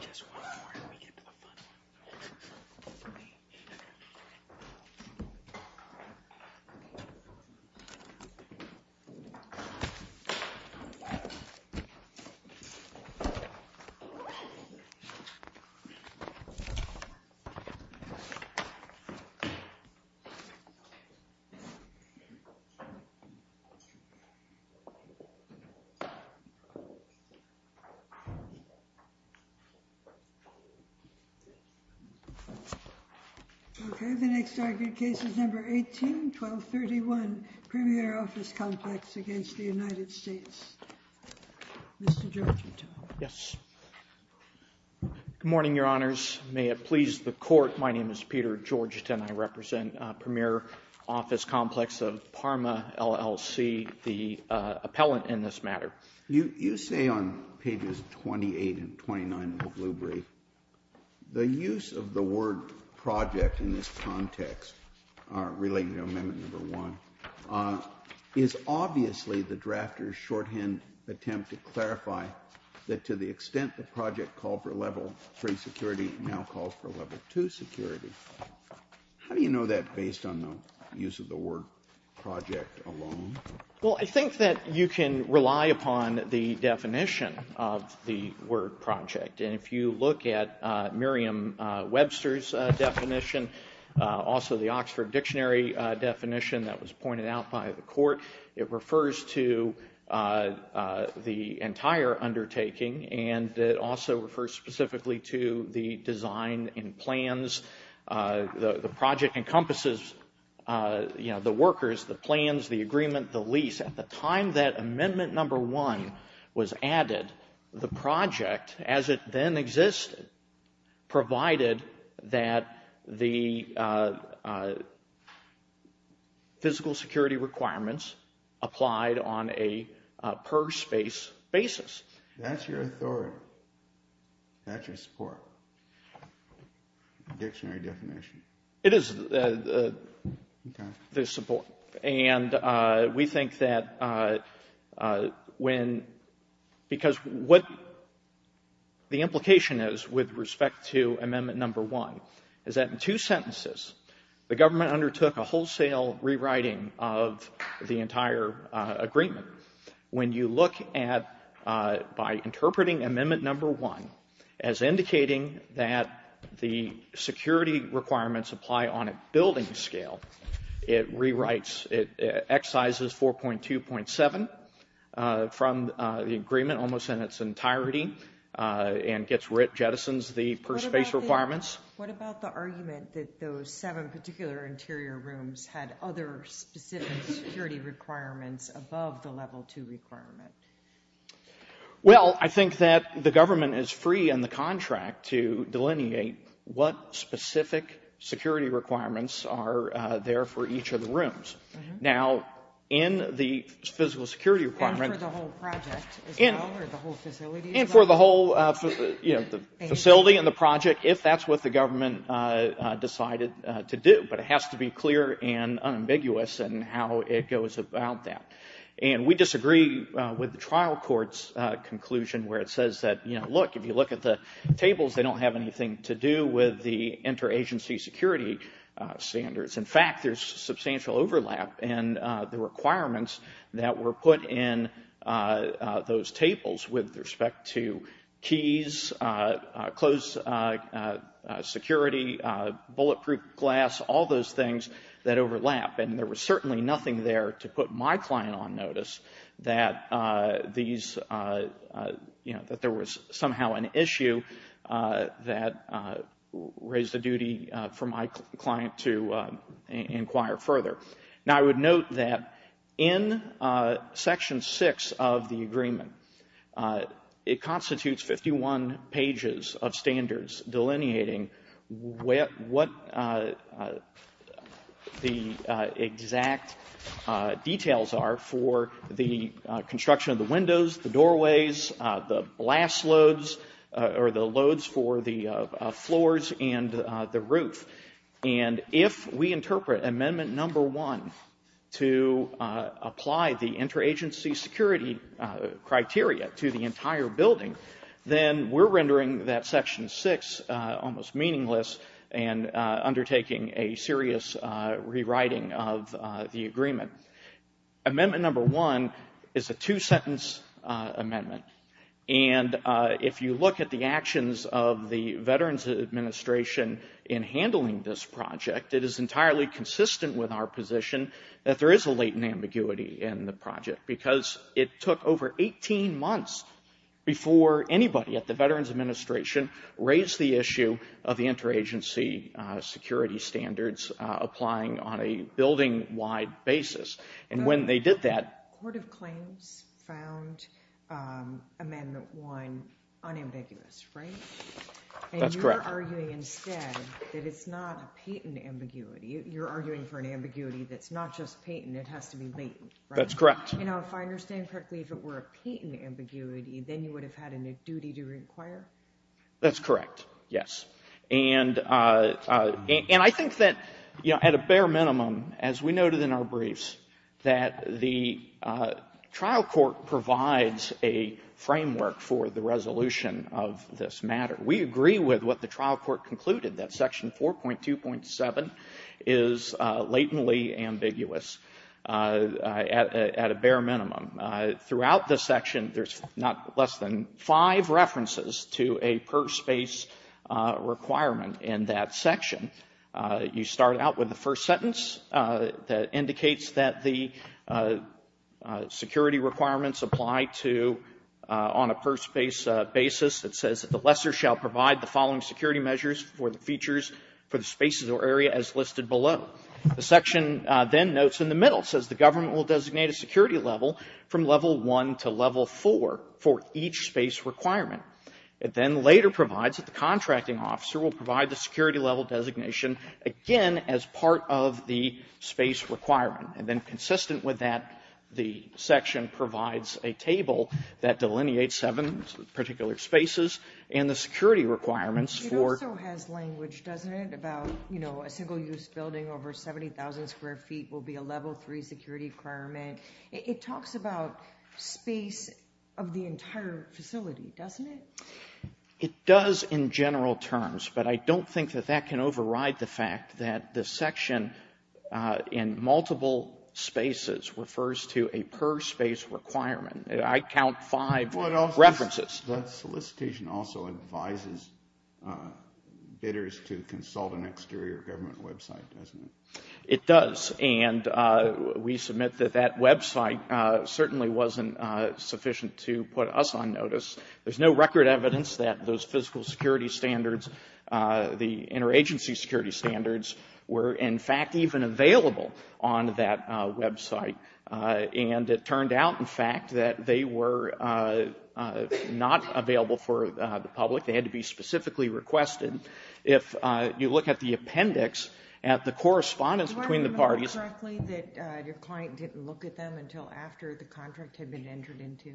Just one more and we get to the fun one. Okay. Okay. The next argued case is number 18-1231, Premier Office Complex against the United States. Mr. Georgetown. Yes. Good morning, Your Honors. May it please the Court. My name is Peter Georgetown. I represent Premier Office Complex of Parma LLC, the appellant in this matter. You say on pages 28 and 29 of the Blue Brief the use of the word project in this context related to Amendment No. 1 is obviously the drafter's shorthand attempt to clarify that to the extent the project called for Level 3 security now calls for Level 2 security. How do you know that based on the use of the word project alone? Well, I think that you can rely upon the definition of the word project. And if you look at Miriam Webster's definition, also the Oxford Dictionary definition that was pointed out by the Court, it refers to the entire undertaking and it also refers specifically to the design and plans. The project encompasses the workers, the plans, the agreement, the lease. At the time that Amendment No. 1 was added, the project as it then existed provided that the physical security requirements applied on a per space basis. That's your authority. That's your support. Dictionary definition. It is the support. And we think that when, because what the implication is with respect to Amendment No. 1 is that in two sentences the government undertook a wholesale rewriting of the entire agreement. When you look at, by interpreting Amendment No. 1 as indicating that the security requirements apply on a building scale, it rewrites, it excises 4.2.7 from the agreement almost in its entirety and gets rid, jettisons the per space requirements. What about the argument that those seven particular interior rooms had other specific security requirements above the level two requirement? Well, I think that the government is free in the contract to delineate what specific security requirements are there for each of the rooms. Now, in the physical security requirement, and for the whole facility and the project, if that's what the government decided to do, but it has to be clear and unambiguous in how it goes about that. And we disagree with the trial court's conclusion where it says that, you know, look, if you look at the tables, they don't have anything to do with the interagency security standards. In fact, there's substantial overlap in the requirements that were put in those tables with respect to keys, closed security, bulletproof glass, all those things that overlap. And there was certainly nothing there to put my client on notice that these, you know, that there was somehow an issue that raised the duty for my client to inquire further. Now, I would note that in Section 6 of the agreement, it constitutes 51 pages of standards delineating what the exact details are for the construction of the windows, the doorways, the blast loads, or the loads for the floors and the roof. And if we interpret Amendment Number 1 to apply the interagency security criteria to the entire building, then we're rendering that Section 6 almost meaningless and undertaking a serious rewriting of the agreement. Amendment Number 1 is a two-sentence amendment. And if you look at the actions of the Veterans Administration in handling this project, it is entirely consistent with our position that there is a latent ambiguity in the project because it took over 18 months before anybody at the Veterans Administration raised the issue of the interagency security standards applying on a building-wide basis. And when they did that— The Court of Claims found Amendment 1 unambiguous, right? That's correct. And you're arguing instead that it's not a patent ambiguity. You're arguing for an ambiguity that's not just patent. It has to be latent, right? That's correct. You know, if I understand correctly, if it were a patent ambiguity, then you would have had a duty to inquire? That's correct, yes. And I think that, you know, at a bare minimum, as we noted in our briefs, that the trial court provides a framework for the resolution of this matter. We agree with what the trial court concluded, that Section 4.2.7 is latently ambiguous at a bare minimum. Throughout this section, there's not less than five references to a per-space requirement in that section. You start out with the first sentence that indicates that the security requirements apply to on a per-space basis. It says that the lessor shall provide the following security measures for the features for the spaces or area as listed below. The section then notes in the middle. It says the government will designate a security level from level 1 to level 4 for each space requirement. It then later provides that the contracting officer will provide the security level designation, again, as part of the space requirement. And then consistent with that, the section provides a table that delineates seven particular spaces and the security requirements for ---- will be a level 3 security requirement. It talks about space of the entire facility, doesn't it? It does in general terms, but I don't think that that can override the fact that the section in multiple spaces refers to a per-space requirement. I count five references. That solicitation also advises bidders to consult an exterior government website, doesn't it? It does, and we submit that that website certainly wasn't sufficient to put us on notice. There's no record evidence that those physical security standards, the interagency security standards, were in fact even available on that website. And it turned out, in fact, that they were not available for the public. They had to be specifically requested. If you look at the appendix, at the correspondence between the parties ---- Did you remember correctly that your client didn't look at them until after the contract had been entered into?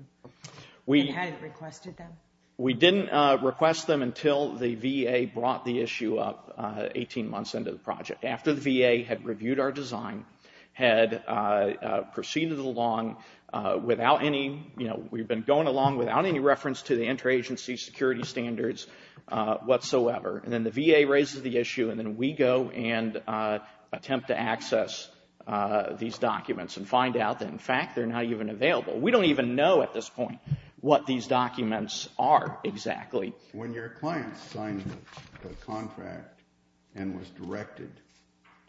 And hadn't requested them? We didn't request them until the VA brought the issue up 18 months into the project. After the VA had reviewed our design, had proceeded along without any ---- We've been going along without any reference to the interagency security standards whatsoever. And then the VA raises the issue, and then we go and attempt to access these documents and find out that, in fact, they're not even available. We don't even know at this point what these documents are exactly. When your client signed the contract and was directed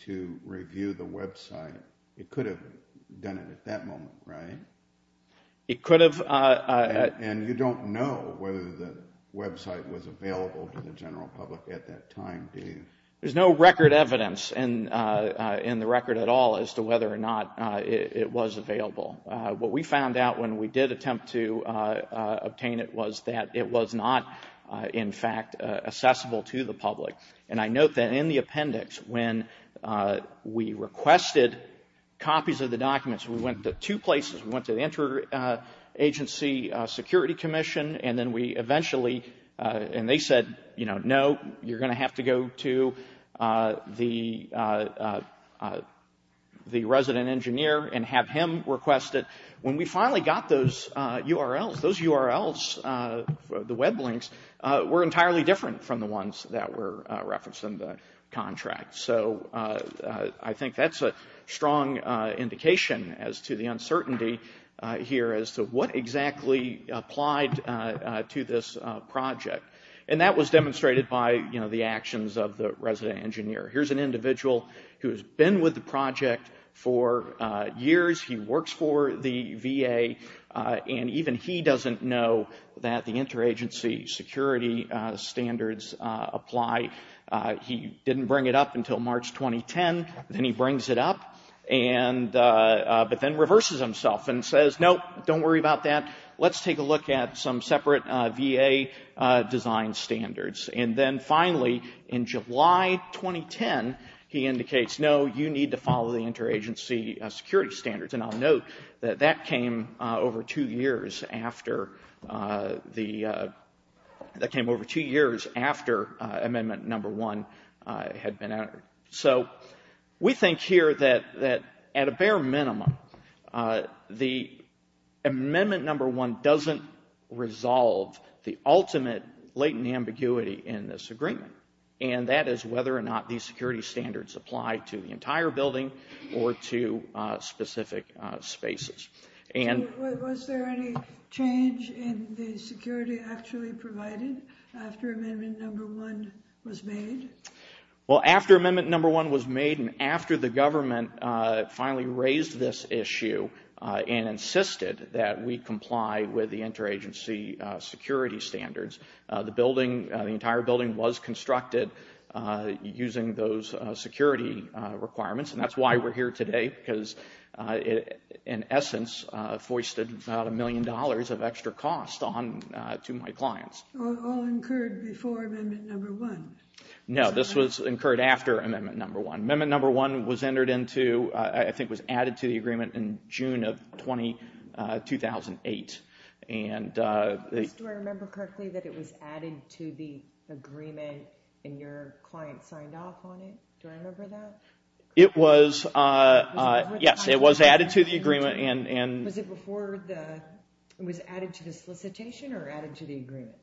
to review the website, it could have done it at that moment, right? It could have. And you don't know whether the website was available to the general public at that time, do you? There's no record evidence in the record at all as to whether or not it was available. What we found out when we did attempt to obtain it was that it was not, in fact, accessible to the public. And I note that in the appendix, when we requested copies of the documents, we went to two places. We went to the interagency security commission, and then we eventually ---- and they said, you know, when we finally got those URLs, those URLs, the web links, were entirely different from the ones that were referenced in the contract. So I think that's a strong indication as to the uncertainty here as to what exactly applied to this project. And that was demonstrated by, you know, the actions of the resident engineer. Here's an individual who has been with the project for years. He works for the VA, and even he doesn't know that the interagency security standards apply. He didn't bring it up until March 2010. Then he brings it up, but then reverses himself and says, no, don't worry about that. Let's take a look at some separate VA design standards. And then finally, in July 2010, he indicates, no, you need to follow the interagency security standards. And I'll note that that came over two years after the ---- that came over two years after amendment number one had been entered. So we think here that at a bare minimum, the amendment number one doesn't resolve the ultimate latent ambiguity in this agreement, and that is whether or not these security standards apply to the entire building or to specific spaces. And ---- Was there any change in the security actually provided after amendment number one was made? Well, after amendment number one was made and after the government finally raised this issue and insisted that we comply with the interagency security standards, the building, the entire building, was constructed using those security requirements. And that's why we're here today, because in essence, foisted about a million dollars of extra cost on to my clients. All incurred before amendment number one? No, this was incurred after amendment number one. Amendment number one was entered into, I think was added to the agreement in June of 2008. And ---- Do I remember correctly that it was added to the agreement and your client signed off on it? Do I remember that? It was, yes, it was added to the agreement and ---- Was it before the, it was added to the solicitation or added to the agreement?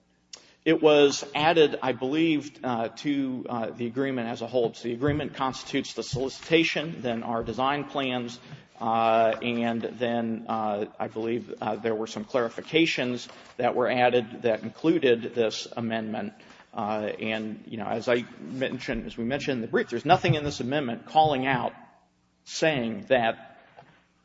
It was added, I believe, to the agreement as a whole. So the agreement constitutes the solicitation, then our design plans, and then I believe there were some clarifications that were added that included this amendment. And, you know, as I mentioned, as we mentioned in the brief, there's nothing in this amendment calling out saying that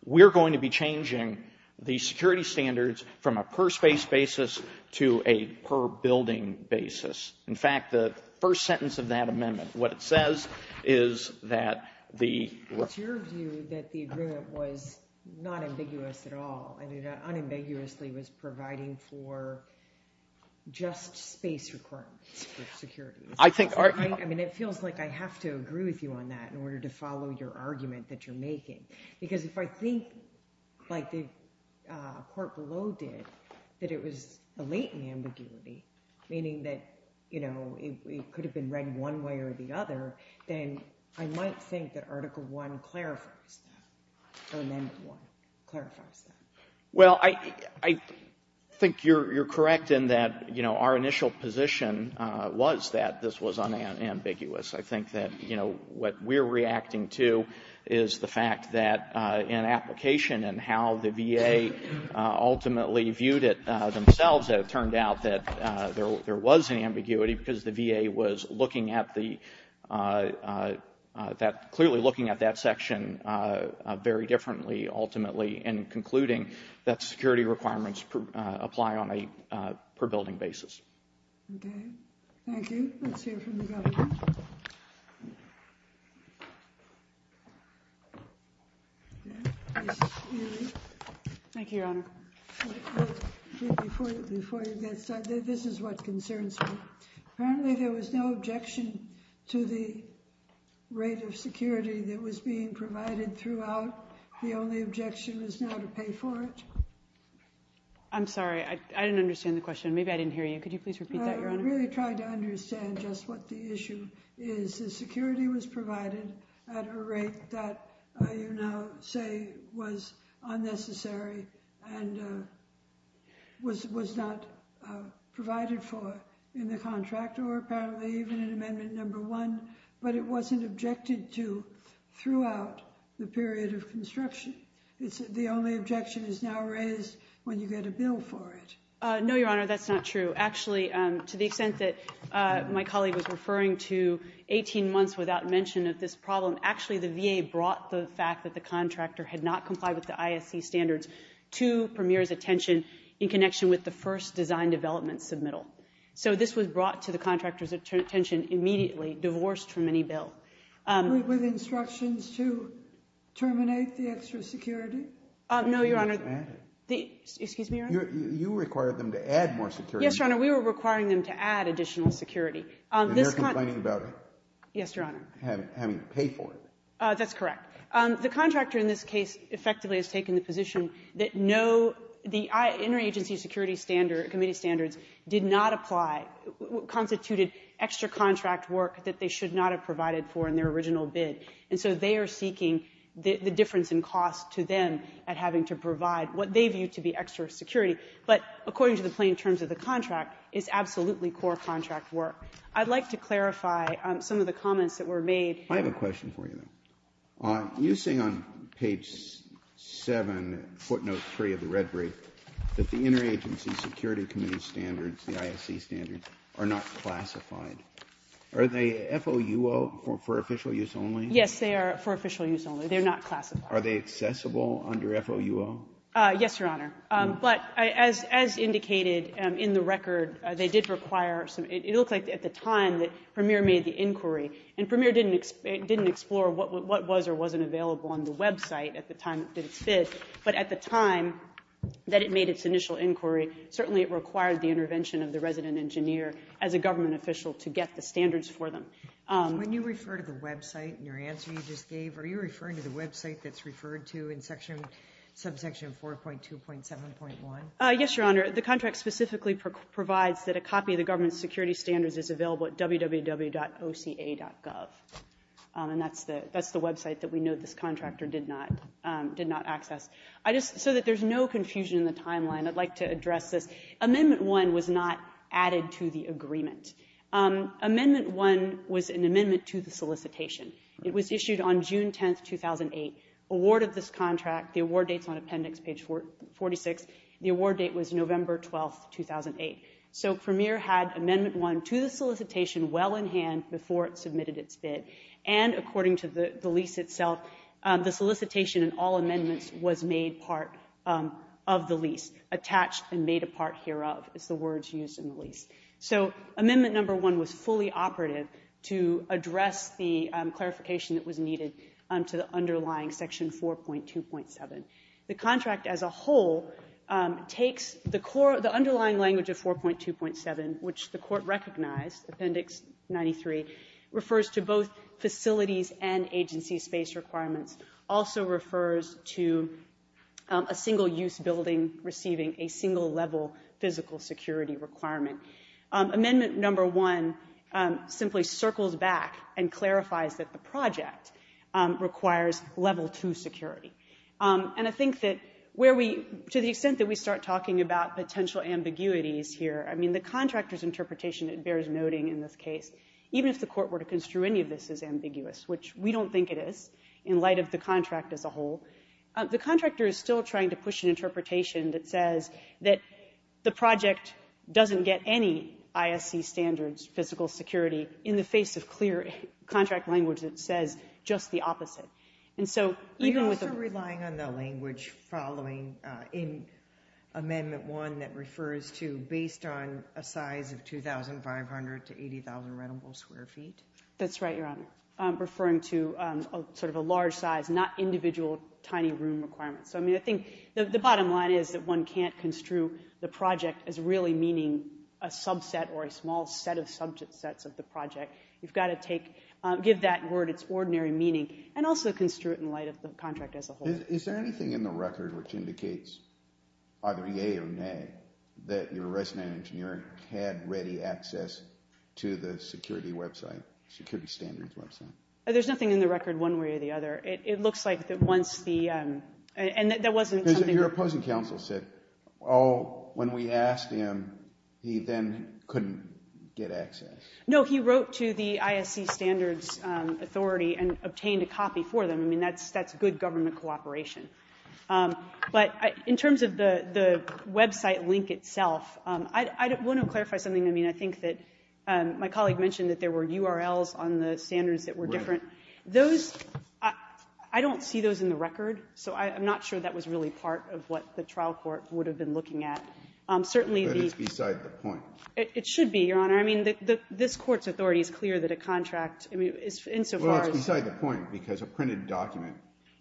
we're going to be changing the security standards from a per space basis to a per building basis. In fact, the first sentence of that amendment, what it says is that the ---- It's your view that the agreement was not ambiguous at all, and it unambiguously was providing for just space requirements for security. I think our ---- I mean, it feels like I have to agree with you on that in order to follow your argument that you're making. Because if I think, like the court below did, that it was a latent ambiguity, meaning that, you know, it could have been read one way or the other, then I might think that Article I clarifies that, or Amendment I clarifies that. Well, I think you're correct in that, you know, our initial position was that this was unambiguous. I think that, you know, what we're reacting to is the fact that in application and how the VA ultimately viewed it themselves, it turned out that there was an ambiguity because the VA was looking at the ---- clearly looking at that section very differently ultimately and concluding that security requirements apply on a per building basis. Okay. Thank you. Let's hear from the government. Thank you, Your Honor. Before you get started, this is what concerns me. Apparently there was no objection to the rate of security that was being provided throughout. The only objection is now to pay for it. I'm sorry. I didn't understand the question. Maybe I didn't hear you. Could you please repeat that, Your Honor? I really tried to understand just what the issue is. The security was provided at a rate that you now say was unnecessary and was not provided for in the contract or apparently even in Amendment I, but it wasn't objected to throughout the period of construction. The only objection is now raised when you get a bill for it. No, Your Honor, that's not true. Actually, to the extent that my colleague was referring to 18 months without mention of this problem, actually the VA brought the fact that the contractor had not complied with the ISC standards to Premier's attention in connection with the first design development submittal. So this was brought to the contractor's attention immediately, divorced from any bill. With instructions to terminate the extra security? No, Your Honor. Excuse me, Your Honor? You required them to add more security. Yes, Your Honor, we were requiring them to add additional security. And they're complaining about it? Yes, Your Honor. Having to pay for it. That's correct. The contractor in this case effectively has taken the position that no, the interagency security standards, committee standards, did not apply, constituted extra contract work that they should not have provided for in their original bid. And so they are seeking the difference in cost to them at having to provide what they view to be extra security. But according to the plain terms of the contract, it's absolutely core contract work. I'd like to clarify some of the comments that were made. I have a question for you. You say on page 7, footnote 3 of the red brief, that the interagency security committee standards, the ISC standards, are not classified. Are they FOUO for official use only? Yes, they are for official use only. They're not classified. Are they accessible under FOUO? Yes, Your Honor. But as indicated in the record, they did require some, it looks like at the time that Premier made the inquiry, and Premier didn't explore what was or wasn't available on the website at the time that it did, but at the time that it made its initial inquiry, certainly it required the intervention of the resident engineer as a government official to get the standards for them. When you refer to the website in your answer you just gave, are you referring to the website that's referred to in subsection 4.2.7.1? Yes, Your Honor. The contract specifically provides that a copy of the government security standards is available at www.oca.gov. And that's the website that we know this contractor did not access. So that there's no confusion in the timeline, I'd like to address this. Amendment 1 was not added to the agreement. Amendment 1 was an amendment to the solicitation. It was issued on June 10, 2008. Award of this contract, the award date's on appendix page 46. The award date was November 12, 2008. So Premier had Amendment 1 to the solicitation well in hand before it submitted its bid, and according to the lease itself, the solicitation and all amendments was made part of the lease, attached and made a part hereof is the words used in the lease. So Amendment 1 was fully operative to address the clarification that was needed to the underlying section 4.2.7. The contract as a whole takes the underlying language of 4.2.7, which the court recognized, appendix 93, refers to both facilities and agency space requirements, also refers to a single-use building receiving a single-level physical security requirement. Amendment 1 simply circles back and clarifies that the project requires level 2 security. And I think that where we, to the extent that we start talking about potential ambiguities here, I mean the contractor's interpretation bears noting in this case, even if the court were to construe any of this as ambiguous, which we don't think it is, in light of the contract as a whole, the contractor is still trying to push an interpretation that says that the project doesn't get any ISC standards physical security in the face of clear contract language that says just the opposite. Are you also relying on the language following in Amendment 1 that refers to, based on a size of 2,500 to 80,000 rentable square feet? That's right, Your Honor. I'm referring to sort of a large size, not individual tiny room requirements. So, I mean, I think the bottom line is that one can't construe the project as really meaning a subset or a small set of subsets of the project. You've got to take, give that word its ordinary meaning and also construe it in light of the contract as a whole. Is there anything in the record which indicates, either yea or nay, that your resident engineer had ready access to the security website, security standards website? There's nothing in the record one way or the other. It looks like that once the, and that wasn't something that Because your opposing counsel said, oh, when we asked him, he then couldn't get access. No, he wrote to the ISC Standards Authority and obtained a copy for them. I mean, that's good government cooperation. But in terms of the website link itself, I want to clarify something. I mean, I think that my colleague mentioned that there were URLs on the standards that were different. Right. Those, I don't see those in the record, so I'm not sure that was really part of what the trial court would have been looking at. But it's beside the point. It should be, Your Honor. I mean, this court's authority is clear that a contract is insofar as Well, it's beside the point because a printed document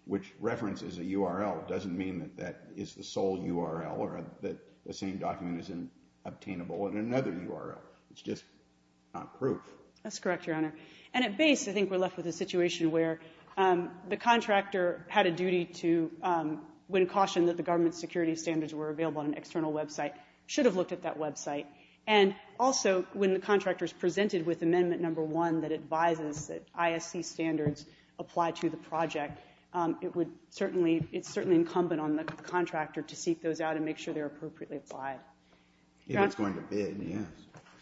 which references a URL doesn't mean that that is the sole URL or that the same document is obtainable in another URL. It's just not proof. That's correct, Your Honor. And at base, I think we're left with a situation where the contractor had a duty to, when cautioned that the government security standards were available on an external website, should have looked at that website. And also, when the contractor is presented with Amendment No. 1 that advises that ISC standards apply to the project, it would certainly, it's certainly incumbent on the contractor to seek those out and make sure they're appropriately applied. If it's going to bid, yes.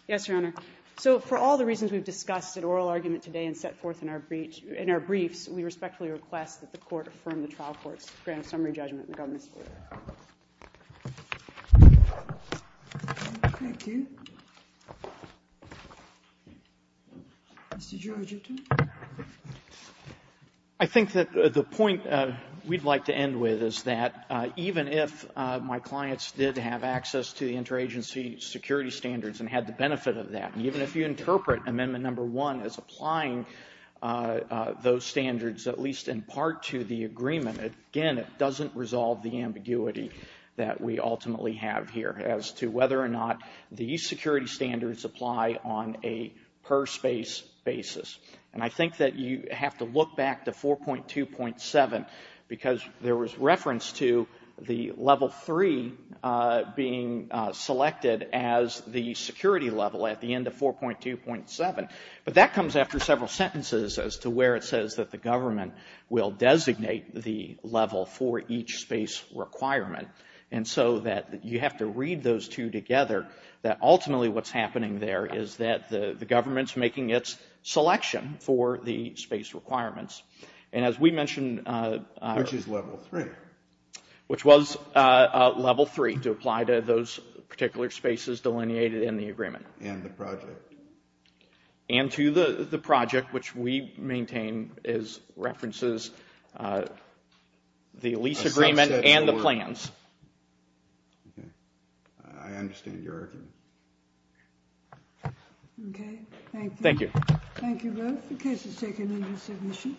Yes, Your Honor. So for all the reasons we've discussed at oral argument today and set forth in our briefs, we respectfully request that the Court affirm the trial court's grand summary judgment in the government's favor. Thank you. Mr. George, your turn. I think that the point we'd like to end with is that even if my clients did have access to the interagency security standards and had the benefit of that, even if you interpret Amendment No. 1 as applying those standards at least in part to the agreement, again, it doesn't resolve the ambiguity that we ultimately have here as to whether or not the security standards apply on a per space basis. And I think that you have to look back to 4.2.7 because there was reference to the Level 3 being selected as the security level at the end of 4.2.7. But that comes after several sentences as to where it says that the government will designate the level for each space requirement. And so that you have to read those two together that ultimately what's happening there is that the government's making its selection for the space requirements. And as we mentioned... Which is Level 3. Which was Level 3 to apply to those particular spaces delineated in the agreement. And the project. And to the project, which we maintain as references the lease agreement and the plans. Okay. I understand your argument. Okay. Thank you. Thank you. Thank you both. The case is taken into submission.